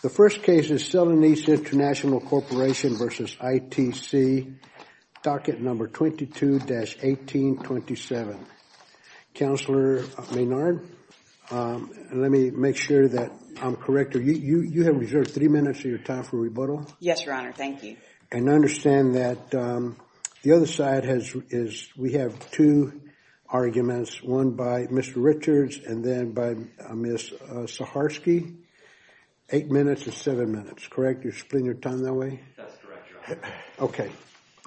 The first case is Salanese International Corporation v. ITC, docket number 22-1827. Counselor Maynard, let me make sure that I'm correct, you have reserved three minutes of your time for rebuttal. Yes, Your Honor. Thank you. And understand that the other side has, we have two arguments, one by Mr. Richards and then by Ms. Saharsky, eight minutes and seven minutes, correct, you're splitting your time that way? That's correct, Your Honor. Okay.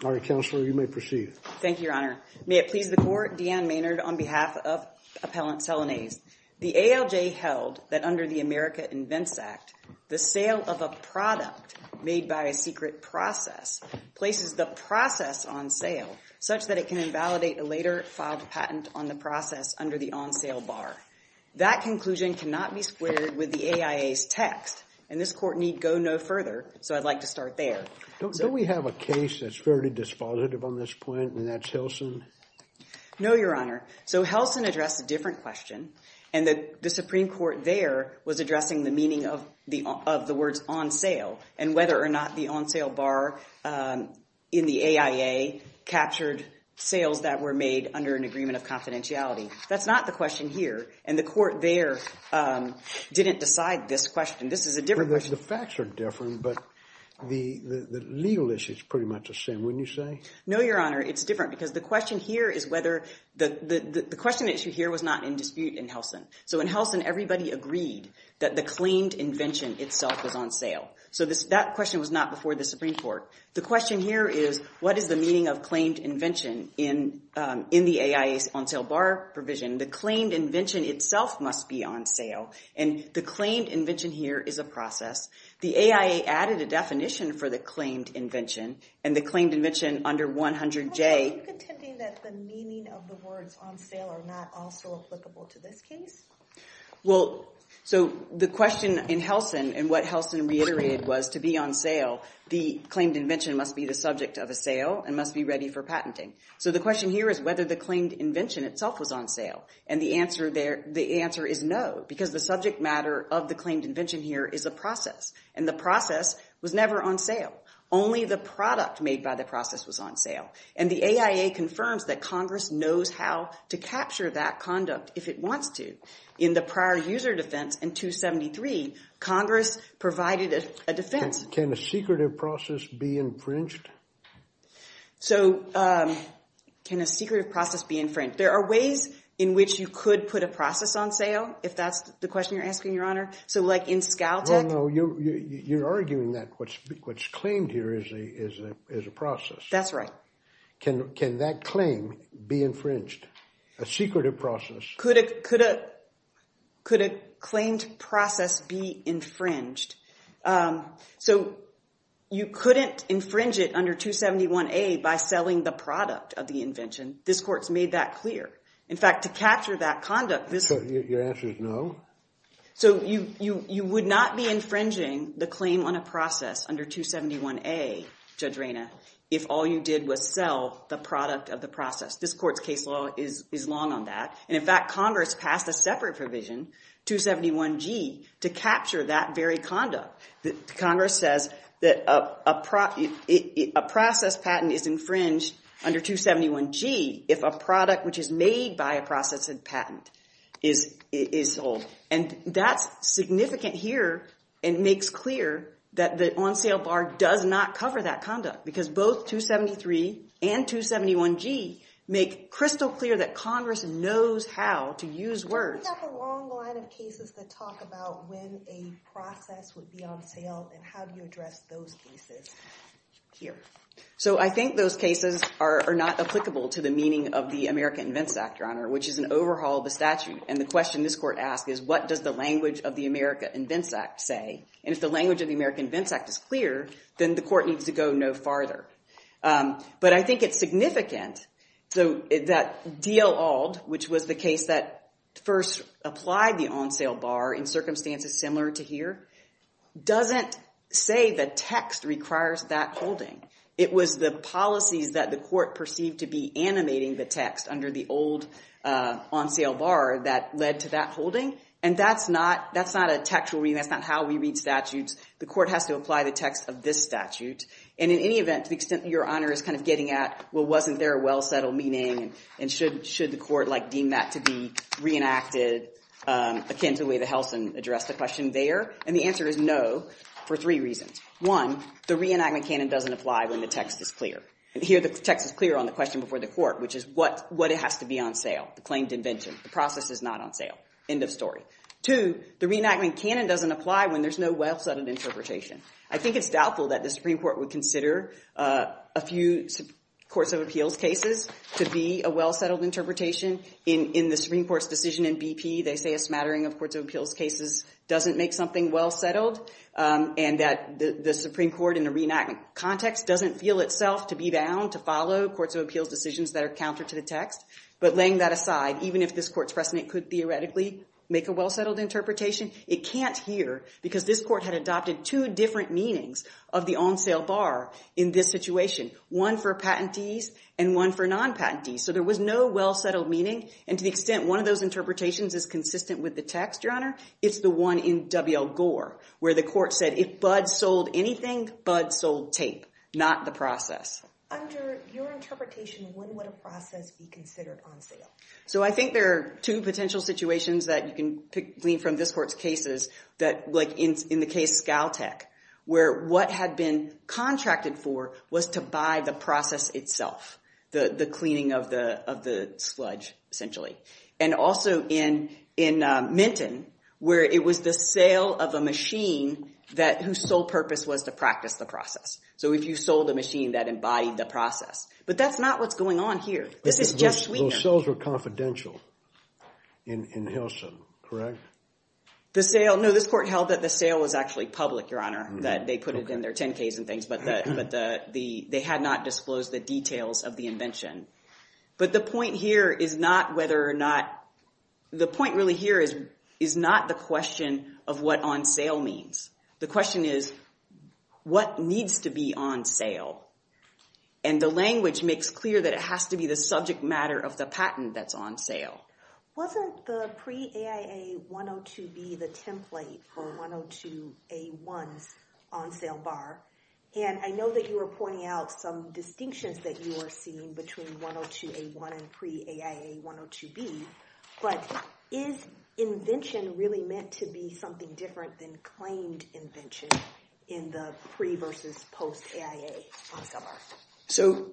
All right, Counselor, you may proceed. Thank you, Your Honor. May it please the Court, Deanne Maynard on behalf of Appellant Salanese, the ALJ held that under the America Invents Act, the sale of a product made by a secret process places the process on sale such that it can invalidate a later filed patent on the process under the on-sale bar. That conclusion cannot be split with the AIA's text, and this Court need go no further, so I'd like to start there. Don't we have a case that's fairly dispositive on this point, and that's Helson? No, Your Honor. So Helson addressed a different question, and the Supreme Court there was addressing the meaning of the words on sale and whether or not the on-sale bar in the AIA captured sales that were made under an agreement of confidentiality. That's not the question here, and the Court there didn't decide this question. This is a different question. The facts are different, but the legal issue is pretty much the same, wouldn't you say? No, Your Honor. It's different because the question here is whether – the question issue here was not in dispute in Helson. So in Helson, everybody agreed that the claimed invention itself was on sale. So that question was not before the Supreme Court. The question here is, what is the meaning of claimed invention in the AIA's on-sale bar provision? The claimed invention itself must be on sale, and the claimed invention here is a process. The AIA added a definition for the claimed invention, and the claimed invention under 100J – Are you contending that the meaning of the words on sale are not also applicable to this case? Well, so the question in Helson, and what Helson reiterated was to be on sale, the claimed invention must be the subject of a sale and must be ready for patenting. So the question here is whether the claimed invention itself was on sale. And the answer there – the answer is no, because the subject matter of the claimed invention here is a process, and the process was never on sale. Only the product made by the process was on sale, and the AIA confirms that Congress knows how to capture that conduct if it wants to. In the prior user defense in 273, Congress provided a defense. Can a secretive process be infringed? So can a secretive process be infringed? There are ways in which you could put a process on sale, if that's the question you're asking, Your Honor. So like in ScalTech – No, no, you're arguing that what's claimed here is a process. That's right. Can that claim be infringed? A secretive process – Could a claimed process be infringed? So you couldn't infringe it under 271A by selling the product of the invention. This Court's made that clear. In fact, to capture that conduct – So your answer is no? So you would not be infringing the claim on a process under 271A, Judge Reyna, if all you did was sell the product of the process. This Court's case law is long on that. And in fact, Congress passed a separate provision, 271G, to capture that very conduct. Congress says that a process patent is infringed under 271G if a product which is made by a process and patent is sold. And that's significant here and makes clear that the on-sale bar does not cover that conduct because both 273 and 271G make crystal clear that Congress knows how to use words. We have a long line of cases that talk about when a process would be on sale and how do you address those cases here. So I think those cases are not applicable to the meaning of the America Invents Act, Your Honor, which is an overhaul of the statute. And the question this Court asks is, what does the language of the America Invents Act say? And if the language of the America Invents Act is clear, then the Court needs to go no farther. But I think it's significant that D.L. Auld, which was the case that first applied the on-sale bar in circumstances similar to here, doesn't say the text requires that holding. It was the policies that the Court perceived to be animating the text under the old on-sale bar that led to that holding. And that's not a textual reading. That's not how we read statutes. The Court has to apply the text of this statute. And in any event, to the extent that Your Honor is kind of getting at, well, wasn't there a well-settled meaning? And should the Court deem that to be reenacted akin to the way that Helson addressed the question there? And the answer is no, for three reasons. One, the reenactment canon doesn't apply when the text is clear. And here, the text is clear on the question before the Court, which is what has to be on sale? The claimed invention. The process is not on sale. End of story. Two, the reenactment canon doesn't apply when there's no well-settled interpretation. I think it's doubtful that the Supreme Court would consider a few courts of appeals cases to be a well-settled interpretation. In the Supreme Court's decision in BP, they say a smattering of courts of appeals cases doesn't make something well-settled. And that the Supreme Court in the reenactment context doesn't feel itself to be bound to follow courts of appeals decisions that are counter to the text. But laying that aside, even if this Court's precedent could theoretically make a well-settled interpretation, it can't here because this Court had adopted two different meanings of the on-sale bar in this situation. One for patentees and one for non-patentees. So there was no well-settled meaning. And to the extent one of those interpretations is consistent with the text, Your Honor, it's the one in W.L. Gore, where the Court said, if Buds sold anything, Buds sold tape. Not the process. Under your interpretation, when would a process be considered on sale? So I think there are two potential situations that you can glean from this Court's cases that, like in the case Scaltech, where what had been contracted for was to buy the process itself. The cleaning of the sludge, essentially. And also in Minton, where it was the sale of a machine whose sole purpose was to practice the process. So if you sold a machine that embodied the process. But that's not what's going on here. This is just Sweden. Those sales were confidential in Hilson, correct? The sale, no, this Court held that the sale was actually public, Your Honor, that they put it in their 10-Ks and things, but they had not disclosed the details of the invention. But the point here is not whether or not, the point really here is not the question of what on-sale means. The question is, what needs to be on sale? And the language makes clear that it has to be the subject matter of the patent that's on sale. Wasn't the pre-AIA-102B the template for 102A1's on-sale bar? And I know that you were pointing out some distinctions that you were seeing between 102A1 and pre-AIA-102B, but is invention really meant to be something different than claim invention in the pre versus post-AIA on-sale bar? So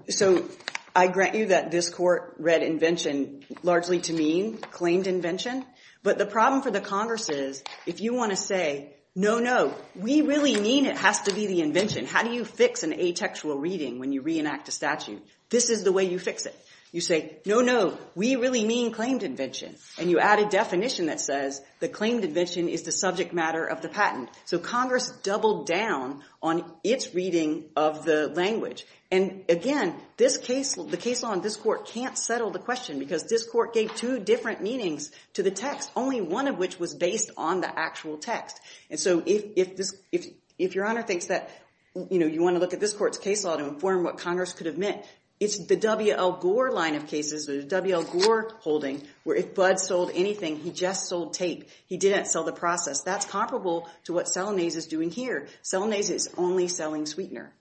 I grant you that this Court read invention largely to mean claimed invention. But the problem for the Congress is, if you want to say, no, no, we really mean it has to be the invention. How do you fix an atextual reading when you reenact a statute? This is the way you fix it. You say, no, no, we really mean claimed invention, and you add a definition that says the claimed invention is the subject matter of the patent. So Congress doubled down on its reading of the language. And again, the case law in this Court can't settle the question, because this Court gave two different meanings to the text, only one of which was based on the actual text. And so if Your Honor thinks that you want to look at this Court's case law to inform what Congress could have meant, it's the W.L. Gore line of cases, the W.L. Gore holding, where if Bud sold anything, he just sold tape. He didn't sell the process. That's comparable to what Selanese is doing here. Selanese is only selling sweetener.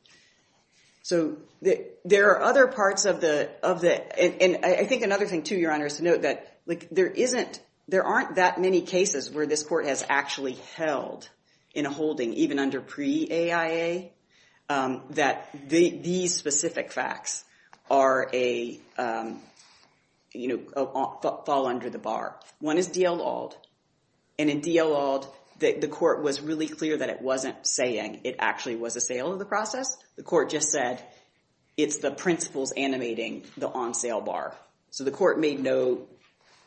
So there are other parts of the—and I think another thing, too, Your Honor, is to note that there aren't that many cases where this Court has actually held in a holding, even under pre-AIA, that these specific facts fall under the bar. One is D.L. Auld, and in D.L. Auld, the Court was really clear that it wasn't saying it actually was a sale of the process. The Court just said it's the principles animating the on-sale bar. So the Court made no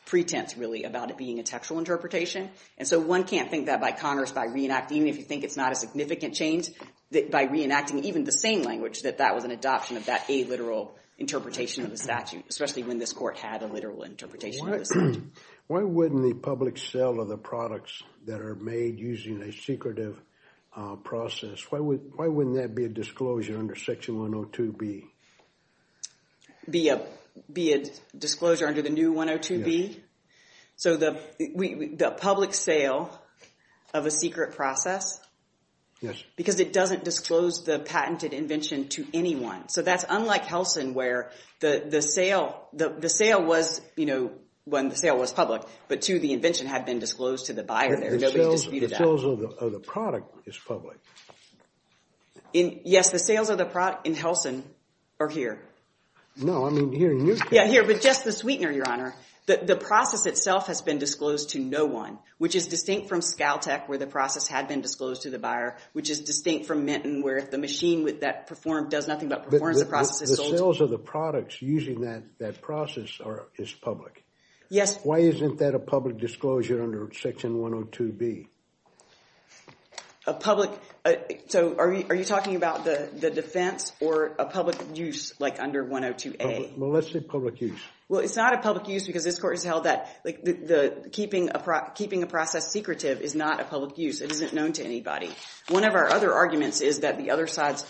pretense, really, about it being a textual interpretation. And so one can't think that by Congress, by reenacting, even if you think it's not a significant change, that by reenacting even the same language, that that was an adoption of that illiteral interpretation of the statute. Why wouldn't the public sale of the products that are made using a secretive process, why wouldn't that be a disclosure under Section 102B? Be a disclosure under the new 102B? So the public sale of a secret process? Yes. Because it doesn't disclose the patented invention to anyone. So that's unlike Helsin, where the sale was, you know, when the sale was public, but two, the invention had been disclosed to the buyer there. Nobody disputed that. The sales of the product is public. Yes, the sales of the product in Helsin are here. No, I mean here in Newtown. Yeah, here, but just the sweetener, Your Honor. The process itself has been disclosed to no one, which is distinct from Skaltech, where the process had been disclosed to the buyer, which is distinct from Minton, where if the process is sold. The sales of the products using that process is public. Yes. Why isn't that a public disclosure under Section 102B? A public, so are you talking about the defense or a public use, like under 102A? Well, let's say public use. Well, it's not a public use because this court has held that keeping a process secretive is not a public use. It isn't known to anybody. One of our other arguments is that the other side's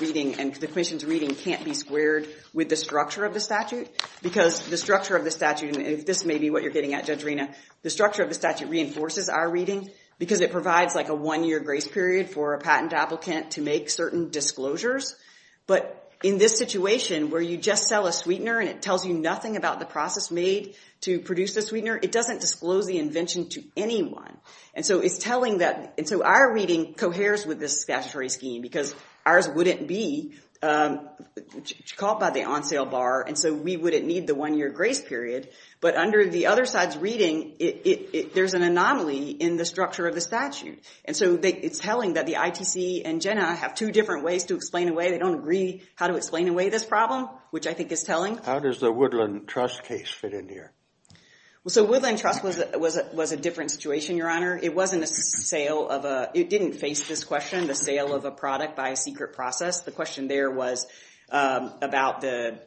reading and the commission's reading can't be squared with the structure of the statute because the structure of the statute, and this may be what you're getting at, Judge Rina, the structure of the statute reinforces our reading because it provides like a one-year grace period for a patent applicant to make certain disclosures. But in this situation where you just sell a sweetener and it tells you nothing about the process made to produce the sweetener, it doesn't disclose the invention to anyone. And so it's telling that, and so our reading coheres with this statutory scheme because ours wouldn't be caught by the on-sale bar, and so we wouldn't need the one-year grace period. But under the other side's reading, there's an anomaly in the structure of the statute. And so it's telling that the ITC and Jena have two different ways to explain away. They don't agree how to explain away this problem, which I think is telling. How does the Woodland Trust case fit in here? So Woodland Trust was a different situation, Your Honor. It wasn't a sale of a... It didn't face this question, the sale of a product by a secret process. The question there was about the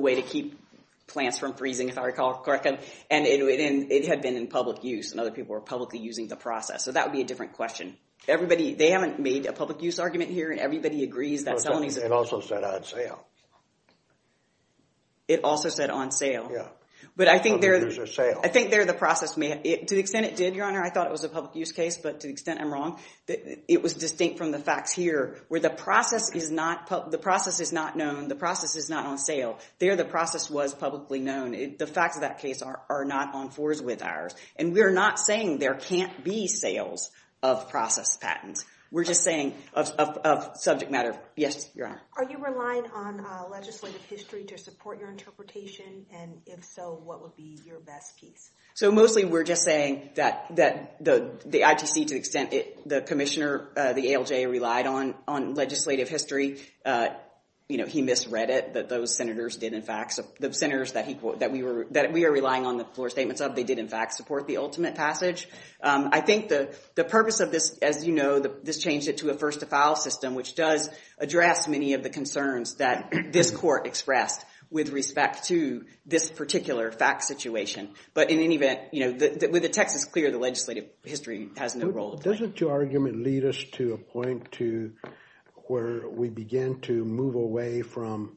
way to keep plants from freezing, if I recall correctly, and it had been in public use, and other people were publicly using the process. So that would be a different question. They haven't made a public use argument here, and everybody agrees that selling is... It also said on sale. It also said on sale. Yeah. But I think there... Public use or sale. I think there the process may... To the extent it did, Your Honor, I thought it was a public use case, but to the extent I'm wrong, it was distinct from the facts here, where the process is not known, the process is not on sale. There the process was publicly known. The facts of that case are not on fours with ours. And we're not saying there can't be sales of process patents. We're just saying of subject matter... Yes, Your Honor. Are you relying on legislative history to support your interpretation, and if so, what would be your best piece? So mostly we're just saying that the ITC, to the extent the commissioner, the ALJ, relied on legislative history, he misread it, that those senators did in fact... The senators that we are relying on the floor statements of, they did in fact support the ultimate passage. I think the purpose of this, as you know, this changed it to a first to file system, which does address many of the concerns that this court expressed with respect to this particular fact situation. But in any event, with the text is clear, the legislative history has no role to play. Doesn't your argument lead us to a point to where we begin to move away from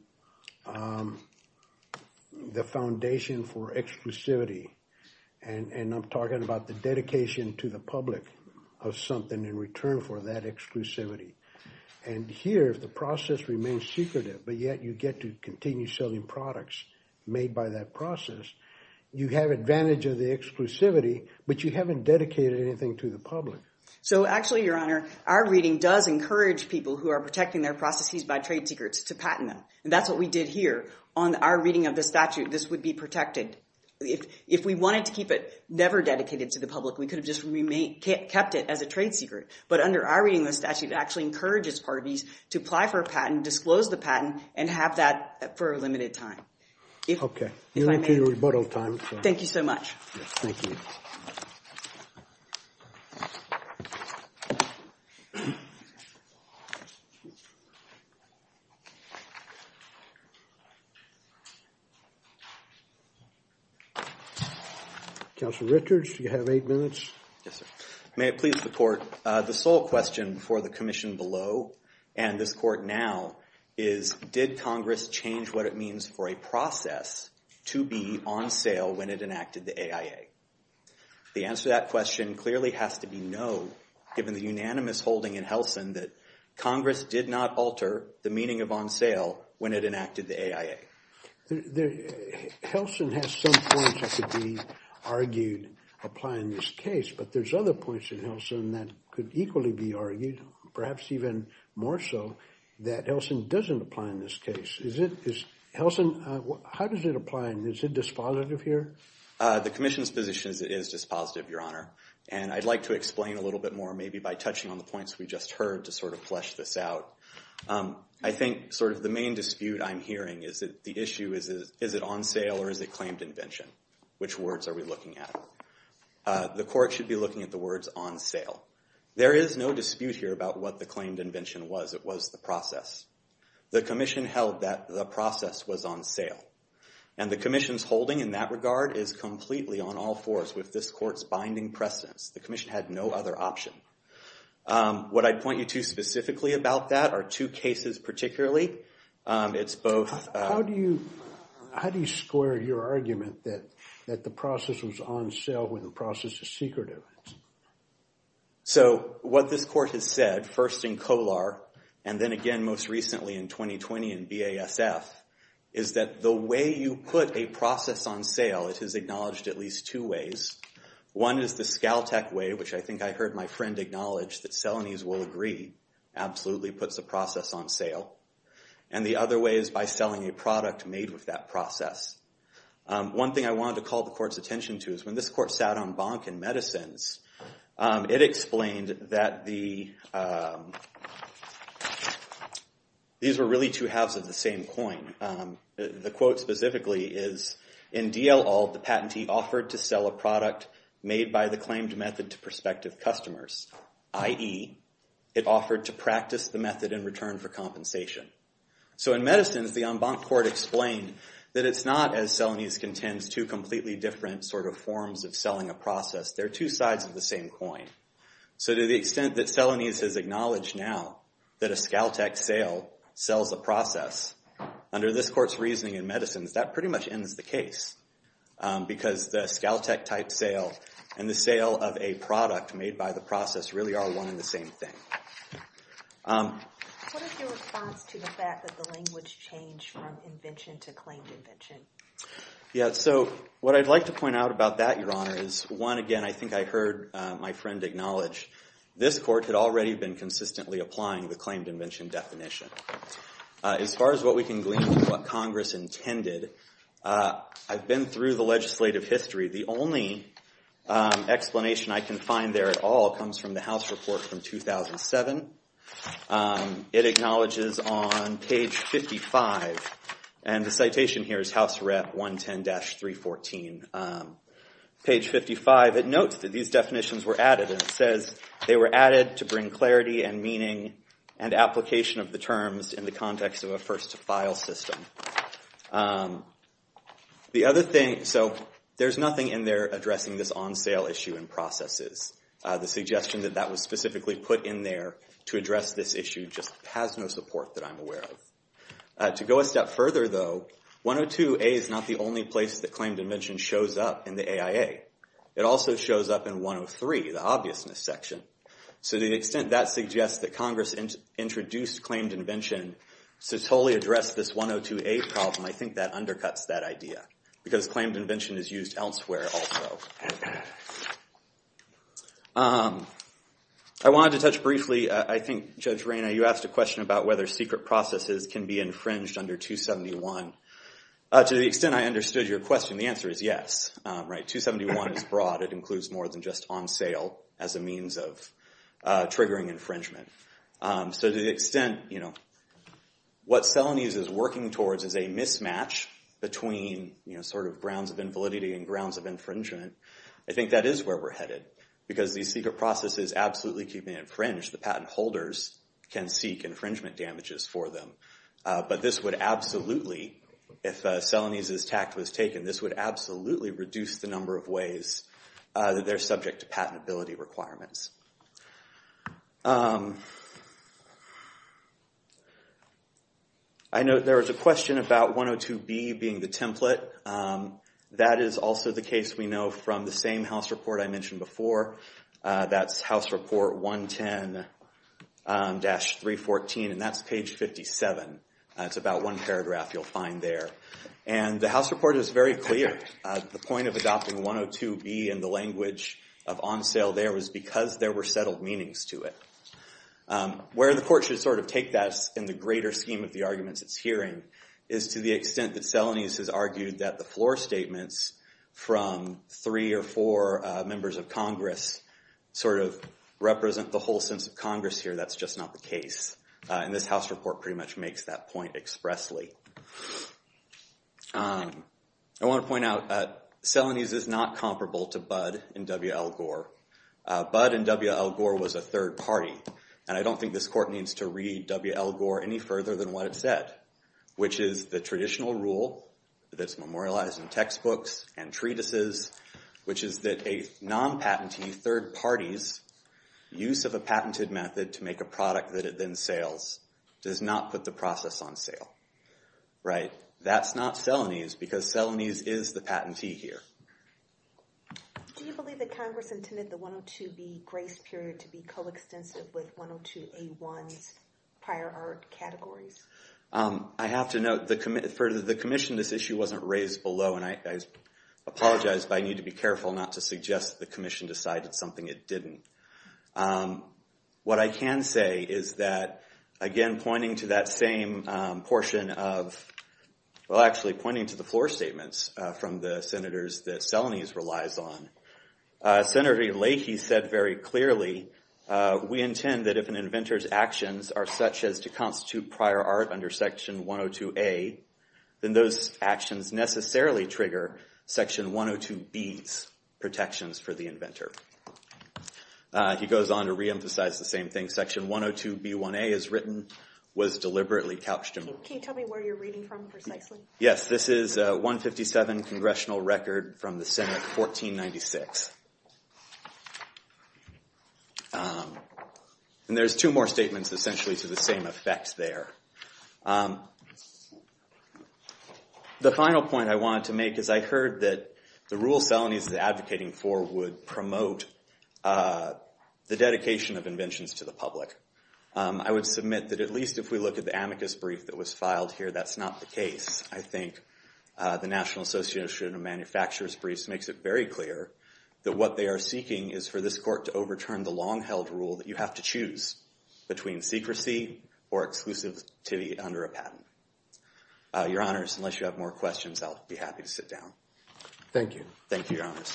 the foundation for exclusivity, and I'm talking about the dedication to the public of something in return for that exclusivity. And here, if the process remains secretive, but yet you get to continue selling products made by that process, you have advantage of the exclusivity, but you haven't dedicated anything to the public. So actually, Your Honor, our reading does encourage people who are protecting their processes by trade secrets to patent them, and that's what we did here on our reading of the statute. This would be protected. If we wanted to keep it never dedicated to the public, we could have just kept it as a trade secret. But under our reading of the statute, it actually encourages parties to apply for a patent, disclose the patent, and have that for a limited time. Okay. You're into your rebuttal time. Thank you so much. Thank you. Counsel Richards, do you have eight minutes? Yes, sir. May it please the Court, the sole question for the commission below, and this Court now, is did Congress change what it means for a process to be on sale when it enacted the AIA? The answer to that question clearly has to be no, given the unanimous holding in Helsin that Congress did not alter the meaning of on sale when it enacted the AIA. Helsin has some points that could be argued, apply in this case, but there's other points in Helsin that could equally be argued, perhaps even more so, that Helsin doesn't apply in this case. Is it, is Helsin, how does it apply, and is it dispositive here? The commission's position is dispositive, Your Honor, and I'd like to explain a little bit more maybe by touching on the points we just heard to sort of flesh this out. I think sort of the main dispute I'm hearing is that the issue is, is it on sale or is it claimed invention? Which words are we looking at? The court should be looking at the words on sale. There is no dispute here about what the claimed invention was, it was the process. The commission held that the process was on sale. And the commission's holding in that regard is completely on all fours with this court's binding precedence. The commission had no other option. What I'd point you to specifically about that are two cases particularly. It's both- How do you square your argument that the process was on sale when the process is secret? So what this court has said, first in Kolar, and then again most recently in 2020 in BASF, is that the way you put a process on sale, it is acknowledged at least two ways. One is the ScalTech way, which I think I heard my friend acknowledge that Selenys will agree absolutely puts a process on sale. And the other way is by selling a product made with that process. One thing I wanted to call the court's attention to is when this court sat on Bank and Medicines, it explained that these were really two halves of the same coin. The quote specifically is, in DL-Alt, the patentee offered to sell a product made by the claimed method to prospective customers, i.e., it offered to practice the method in return for compensation. So in Medicines, the en banc court explained that it's not, as Selenys contends, two completely different forms of selling a process. They're two sides of the same coin. So to the extent that Selenys has acknowledged now that a ScalTech sale sells a process, under this court's reasoning in Medicines, that pretty much ends the case. Because the ScalTech type sale and the sale of a product made by the process really are the same thing. What is your response to the fact that the language changed from invention to claimed invention? Yeah. So what I'd like to point out about that, Your Honor, is, one, again, I think I heard my friend acknowledge this court had already been consistently applying the claimed invention definition. As far as what we can glean from what Congress intended, I've been through the legislative history. The only explanation I can find there at all comes from the House report from 2007. It acknowledges on page 55, and the citation here is House Rep 110-314. Page 55, it notes that these definitions were added, and it says, they were added to bring clarity and meaning and application of the terms in the context of a first-to-file system. The other thing, so there's nothing in there addressing this on-sale issue in processes. The suggestion that that was specifically put in there to address this issue just has no support that I'm aware of. To go a step further, though, 102A is not the only place that claimed invention shows up in the AIA. It also shows up in 103, the obviousness section. So to the extent that suggests that Congress introduced claimed invention to totally address this 102A problem, I think that undercuts that idea, because claimed invention is used elsewhere also. I wanted to touch briefly, I think, Judge Reyna, you asked a question about whether secret processes can be infringed under 271. To the extent I understood your question, the answer is yes. 271 is broad. It includes more than just on-sale as a means of triggering infringement. So to the extent, what Celanese is working towards is a mismatch between grounds of invalidity and grounds of infringement, I think that is where we're headed. Because these secret processes absolutely can be infringed, the patent holders can seek infringement damages for them. But this would absolutely, if Celanese's tact was taken, this would absolutely reduce the I know there was a question about 102B being the template. That is also the case we know from the same house report I mentioned before. That's house report 110-314, and that's page 57. It's about one paragraph you'll find there. And the house report is very clear. The point of adopting 102B and the language of on-sale there was because there were settled meanings to it. Where the court should sort of take that in the greater scheme of the arguments it's hearing is to the extent that Celanese has argued that the floor statements from three or four members of Congress sort of represent the whole sense of Congress here. That's just not the case. And this house report pretty much makes that point expressly. I want to point out, Celanese is not comparable to Budd and W.L. Gore. Budd and W.L. Gore was a third party. And I don't think this court needs to read W.L. Gore any further than what it said, which is the traditional rule that's memorialized in textbooks and treatises, which is that a non-patentee third party's use of a patented method to make a product that it then sales does not put the process on sale. That's not Celanese, because Celanese is the patentee here. Do you believe that Congress intended the 102B grace period to be coextensive with 102A1's prior art categories? I have to note, for the commission, this issue wasn't raised below. And I apologize, but I need to be careful not to suggest the commission decided something it didn't. What I can say is that, again, pointing to that same portion of, well, actually pointing to the floor statements from the senators that Celanese relies on, Senator Leahy said very clearly, we intend that if an inventor's actions are such as to constitute prior art under section 102A, then those actions necessarily trigger section 102B's protections for the inventor. He goes on to reemphasize the same thing. Section 102B1A, as written, was deliberately couched in... Can you tell me where you're reading from, precisely? Yes, this is 157 Congressional Record from the Senate, 1496. And there's two more statements, essentially, to the same effect there. The final point I wanted to make is I heard that the rule Celanese is advocating for would promote the dedication of inventions to the public. I would submit that, at least if we look at the amicus brief that was filed here, that's not the case. I think the National Association of Manufacturers briefs makes it very clear that what they are seeking is for this court to overturn the long-held rule that you have to choose between secrecy or exclusivity under a patent. Your Honors, unless you have more questions, I'll be happy to sit down. Thank you. Thank you, Your Honors.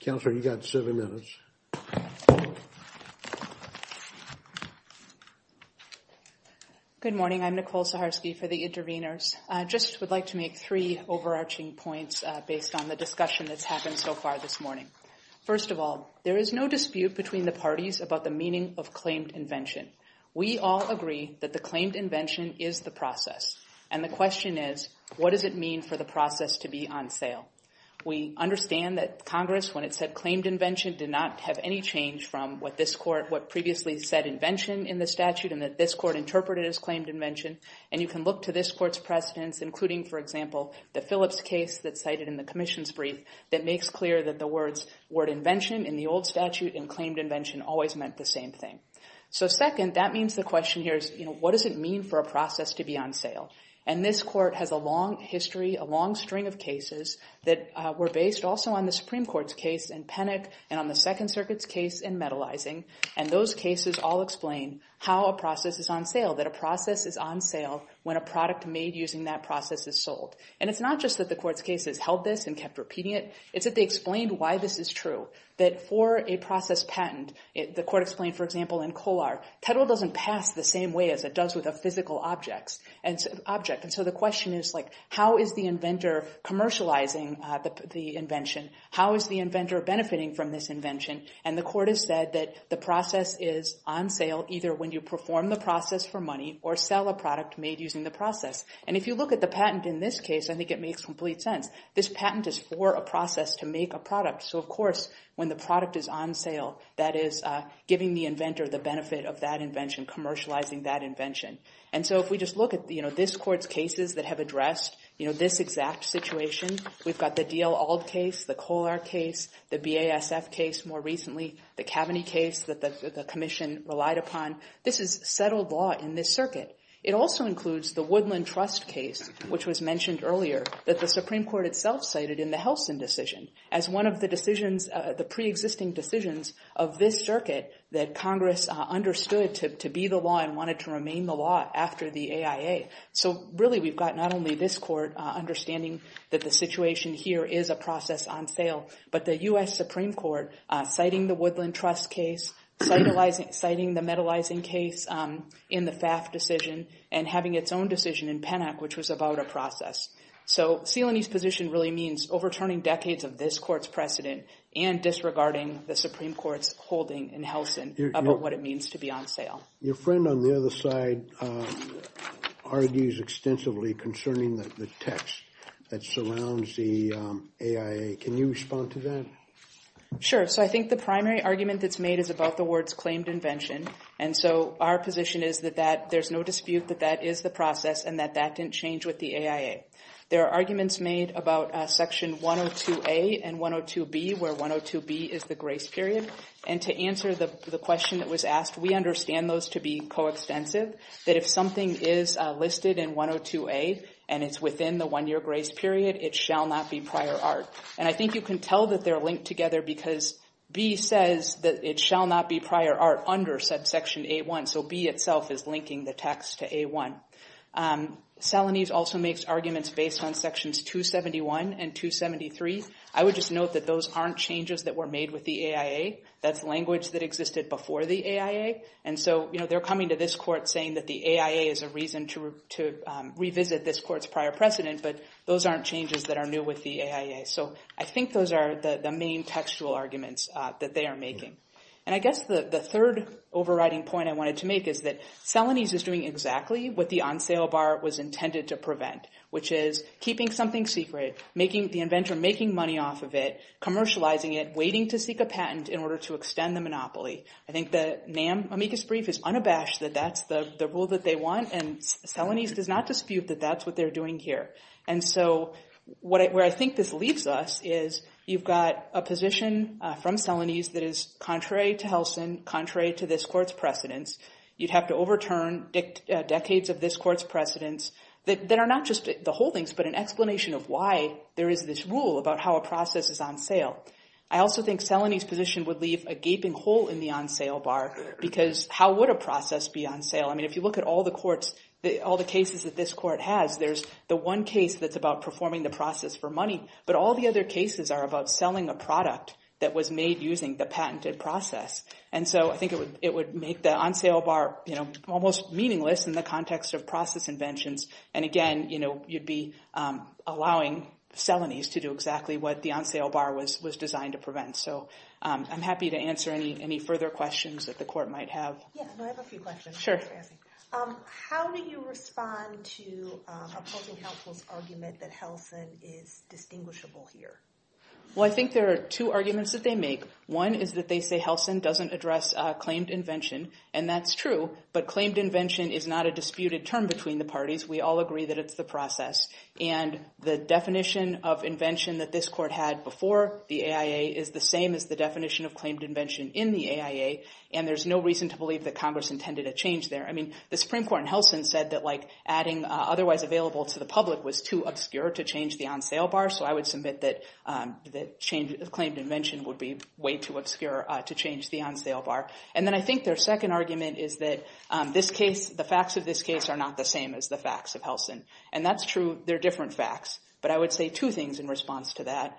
Counselor, you've got seven minutes. Good morning. I'm Nicole Saharsky for the Intervenors. I just would like to make three overarching points based on the discussion that's happened so far this morning. First of all, there is no dispute between the parties about the meaning of claimed invention. We all agree that the claimed invention is the process. And the question is, what does it mean for the process to be on sale? We understand that Congress, when it said claimed invention, did not have any change from what this court, what previously said invention in the statute and that this court interpreted as claimed invention. And you can look to this court's precedents, including, for example, the Phillips case that's cited in the Commission's brief that makes clear that the words, word invention in the old statute and claimed invention always meant the same thing. So second, that means the question here is, what does it mean for a process to be on sale? And this court has a long history, a long string of cases that were based also on the Supreme Court's case in Penick and on the Second Circuit's case in Metalizing. And those cases all explain how a process is on sale, that a process is on sale when a product made using that process is sold. And it's not just that the court's case has held this and kept repeating it. It's that they explained why this is true, that for a process patent, the court explained, for example, in Kolar, title doesn't pass the same way as it does with a physical object. And so the question is, how is the inventor commercializing the invention? How is the inventor benefiting from this invention? And the court has said that the process is on sale either when you perform the process for money or sell a product made using the process. And if you look at the patent in this case, I think it makes complete sense. This patent is for a process to make a product. So of course, when the product is on sale, that is giving the inventor the benefit of that invention, commercializing that invention. And so if we just look at this court's cases that have addressed this exact situation, we've got the D.L. Auld case, the Kolar case, the BASF case more recently, the Kaveny case that the commission relied upon. This is settled law in this circuit. It also includes the Woodland Trust case, which was mentioned earlier, that the Supreme the pre-existing decisions of this circuit that Congress understood to be the law and wanted to remain the law after the AIA. So really, we've got not only this court understanding that the situation here is a process on sale, but the U.S. Supreme Court citing the Woodland Trust case, citing the Metalizing case in the FAF decision, and having its own decision in Pennock, which was about a process. So Celaney's position really means overturning decades of this court's precedent and disregarding the Supreme Court's holding in Helsin about what it means to be on sale. Your friend on the other side argues extensively concerning the text that surrounds the AIA. Can you respond to that? Sure. So I think the primary argument that's made is about the words claimed invention. And so our position is that there's no dispute that that is the process and that that didn't change with the AIA. There are arguments made about Section 102A and 102B, where 102B is the grace period. And to answer the question that was asked, we understand those to be coextensive, that if something is listed in 102A and it's within the one-year grace period, it shall not be prior art. And I think you can tell that they're linked together because B says that it shall not be prior art under subsection A1. So B itself is linking the text to A1. Salonese also makes arguments based on Sections 271 and 273. I would just note that those aren't changes that were made with the AIA. That's language that existed before the AIA. And so they're coming to this court saying that the AIA is a reason to revisit this court's prior precedent, but those aren't changes that are new with the AIA. So I think those are the main textual arguments that they are making. And I guess the third overriding point I wanted to make is that Salonese is doing exactly what the on-sale bar was intended to prevent, which is keeping something secret, the inventor making money off of it, commercializing it, waiting to seek a patent in order to extend the monopoly. I think the NAM amicus brief is unabashed that that's the rule that they want, and Salonese does not dispute that that's what they're doing here. And so where I think this leaves us is you've got a position from Salonese that is contrary to Helsin, contrary to this court's precedents. You'd have to overturn decades of this court's precedents that are not just the holdings, but an explanation of why there is this rule about how a process is on sale. I also think Salonese's position would leave a gaping hole in the on-sale bar, because how would a process be on sale? I mean, if you look at all the courts, all the cases that this court has, there's the one case that's about performing the process for money, but all the other cases are about And so I think it would make the on-sale bar almost meaningless in the context of process inventions. And again, you'd be allowing Salonese to do exactly what the on-sale bar was designed to prevent. So I'm happy to answer any further questions that the court might have. Yes, I have a few questions. Sure. How do you respond to opposing counsel's argument that Helsin is distinguishable here? Well, I think there are two arguments that they make. One is that they say Helsin doesn't address claimed invention. And that's true. But claimed invention is not a disputed term between the parties. We all agree that it's the process. And the definition of invention that this court had before the AIA is the same as the definition of claimed invention in the AIA. And there's no reason to believe that Congress intended a change there. I mean, the Supreme Court in Helsin said that adding otherwise available to the public was too obscure to change the on-sale bar. So I would submit that claimed invention would be way too obscure to change the on-sale bar. And then I think their second argument is that the facts of this case are not the same as the facts of Helsin. And that's true. They're different facts. But I would say two things in response to that.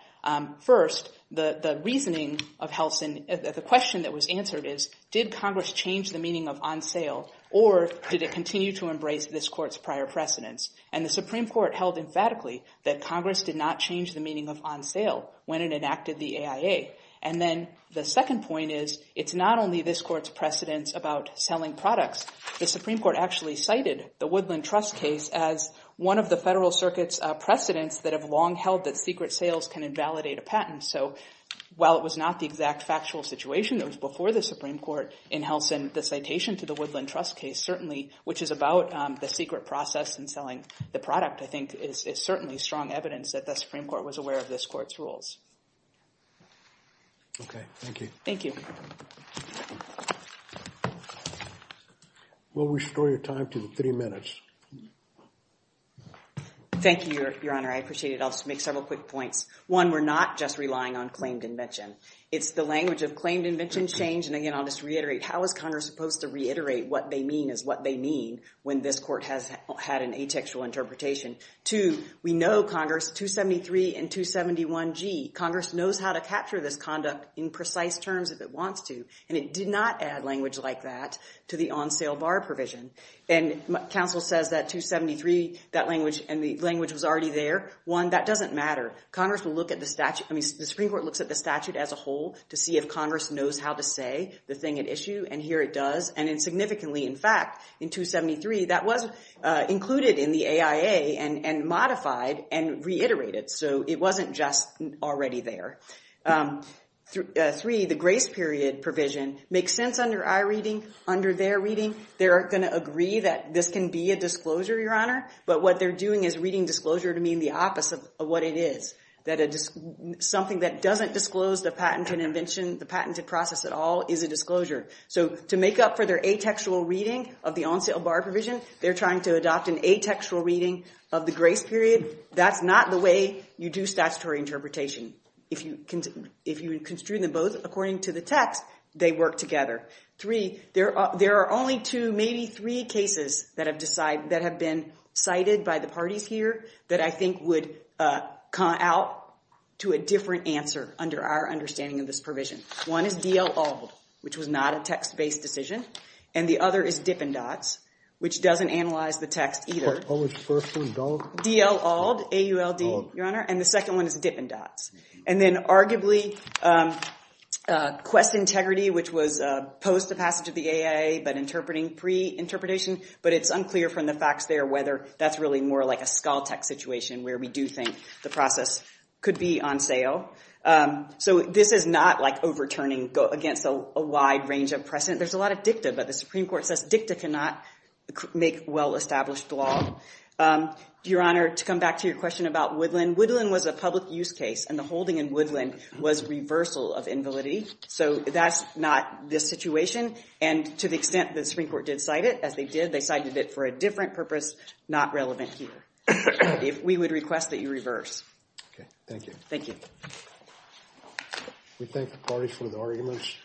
First, the reasoning of Helsin, the question that was answered is, did Congress change the meaning of on-sale? Or did it continue to embrace this court's prior precedence? And the Supreme Court held emphatically that Congress did not change the meaning of on-sale when it enacted the AIA. And then the second point is, it's not only this court's precedence about selling products. The Supreme Court actually cited the Woodland Trust case as one of the Federal Circuit's precedents that have long held that secret sales can invalidate a patent. So while it was not the exact factual situation that was before the Supreme Court in Helsin, the citation to the Woodland Trust case certainly, which is about the secret process in selling the product, I think, is certainly strong evidence that the Supreme Court was aware of this court's rules. OK. Thank you. Thank you. We'll restore your time to three minutes. Thank you, Your Honor. I appreciate it. I'll just make several quick points. One, we're not just relying on claimed invention. It's the language of claimed invention change. And again, I'll just reiterate, how is Congress supposed to reiterate what they mean is what they mean when this court has had an atextual interpretation? Two, we know Congress, 273 and 271G, Congress knows how to capture this conduct in precise terms if it wants to. And it did not add language like that to the on-sale bar provision. And counsel says that 273, that language, and the language was already there. One, that doesn't matter. Congress will look at the statute. I mean, the Supreme Court looks at the statute as a whole to see if Congress knows how to say the thing at issue. And here it does. And significantly, in fact, in 273, that was included in the AIA and modified and reiterated. So it wasn't just already there. Three, the grace period provision makes sense under our reading, under their reading. They're going to agree that this can be a disclosure, Your Honor. But what they're doing is reading disclosure to mean the opposite of what it is. Something that doesn't disclose the patent and invention, the patented process at all is a disclosure. So to make up for their atextual reading of the on-sale bar provision, they're trying to adopt an atextual reading of the grace period. That's not the way you do statutory interpretation. If you construe them both according to the text, they work together. Three, there are only two, maybe three cases that have been cited by the parties here that I think would come out to a different answer under our understanding of this provision. One is D.L. Auld, which was not a text-based decision. And the other is Dippin' Dots, which doesn't analyze the text either. What was the first one, Dauld? D.L. Auld, A-U-L-D, Your Honor. And the second one is Dippin' Dots. And then arguably, Quest Integrity, which was post the passage of the AIA, but interpreting pre-interpretation. But it's unclear from the facts there whether that's really more like a Skaltec situation where we do think the process could be on sale. So this is not like overturning against a wide range of precedent. There's a lot of dicta, but the Supreme Court says dicta cannot make well-established law. Your Honor, to come back to your question about Woodland, Woodland was a public use case, and the holding in Woodland was reversal of invalidity. So that's not this situation. And to the extent the Supreme Court did cite it, as they did, they cited it for a different purpose, not relevant here. We would request that you reverse. OK. Thank you. Thank you. Thank you. We thank the parties for the arguments.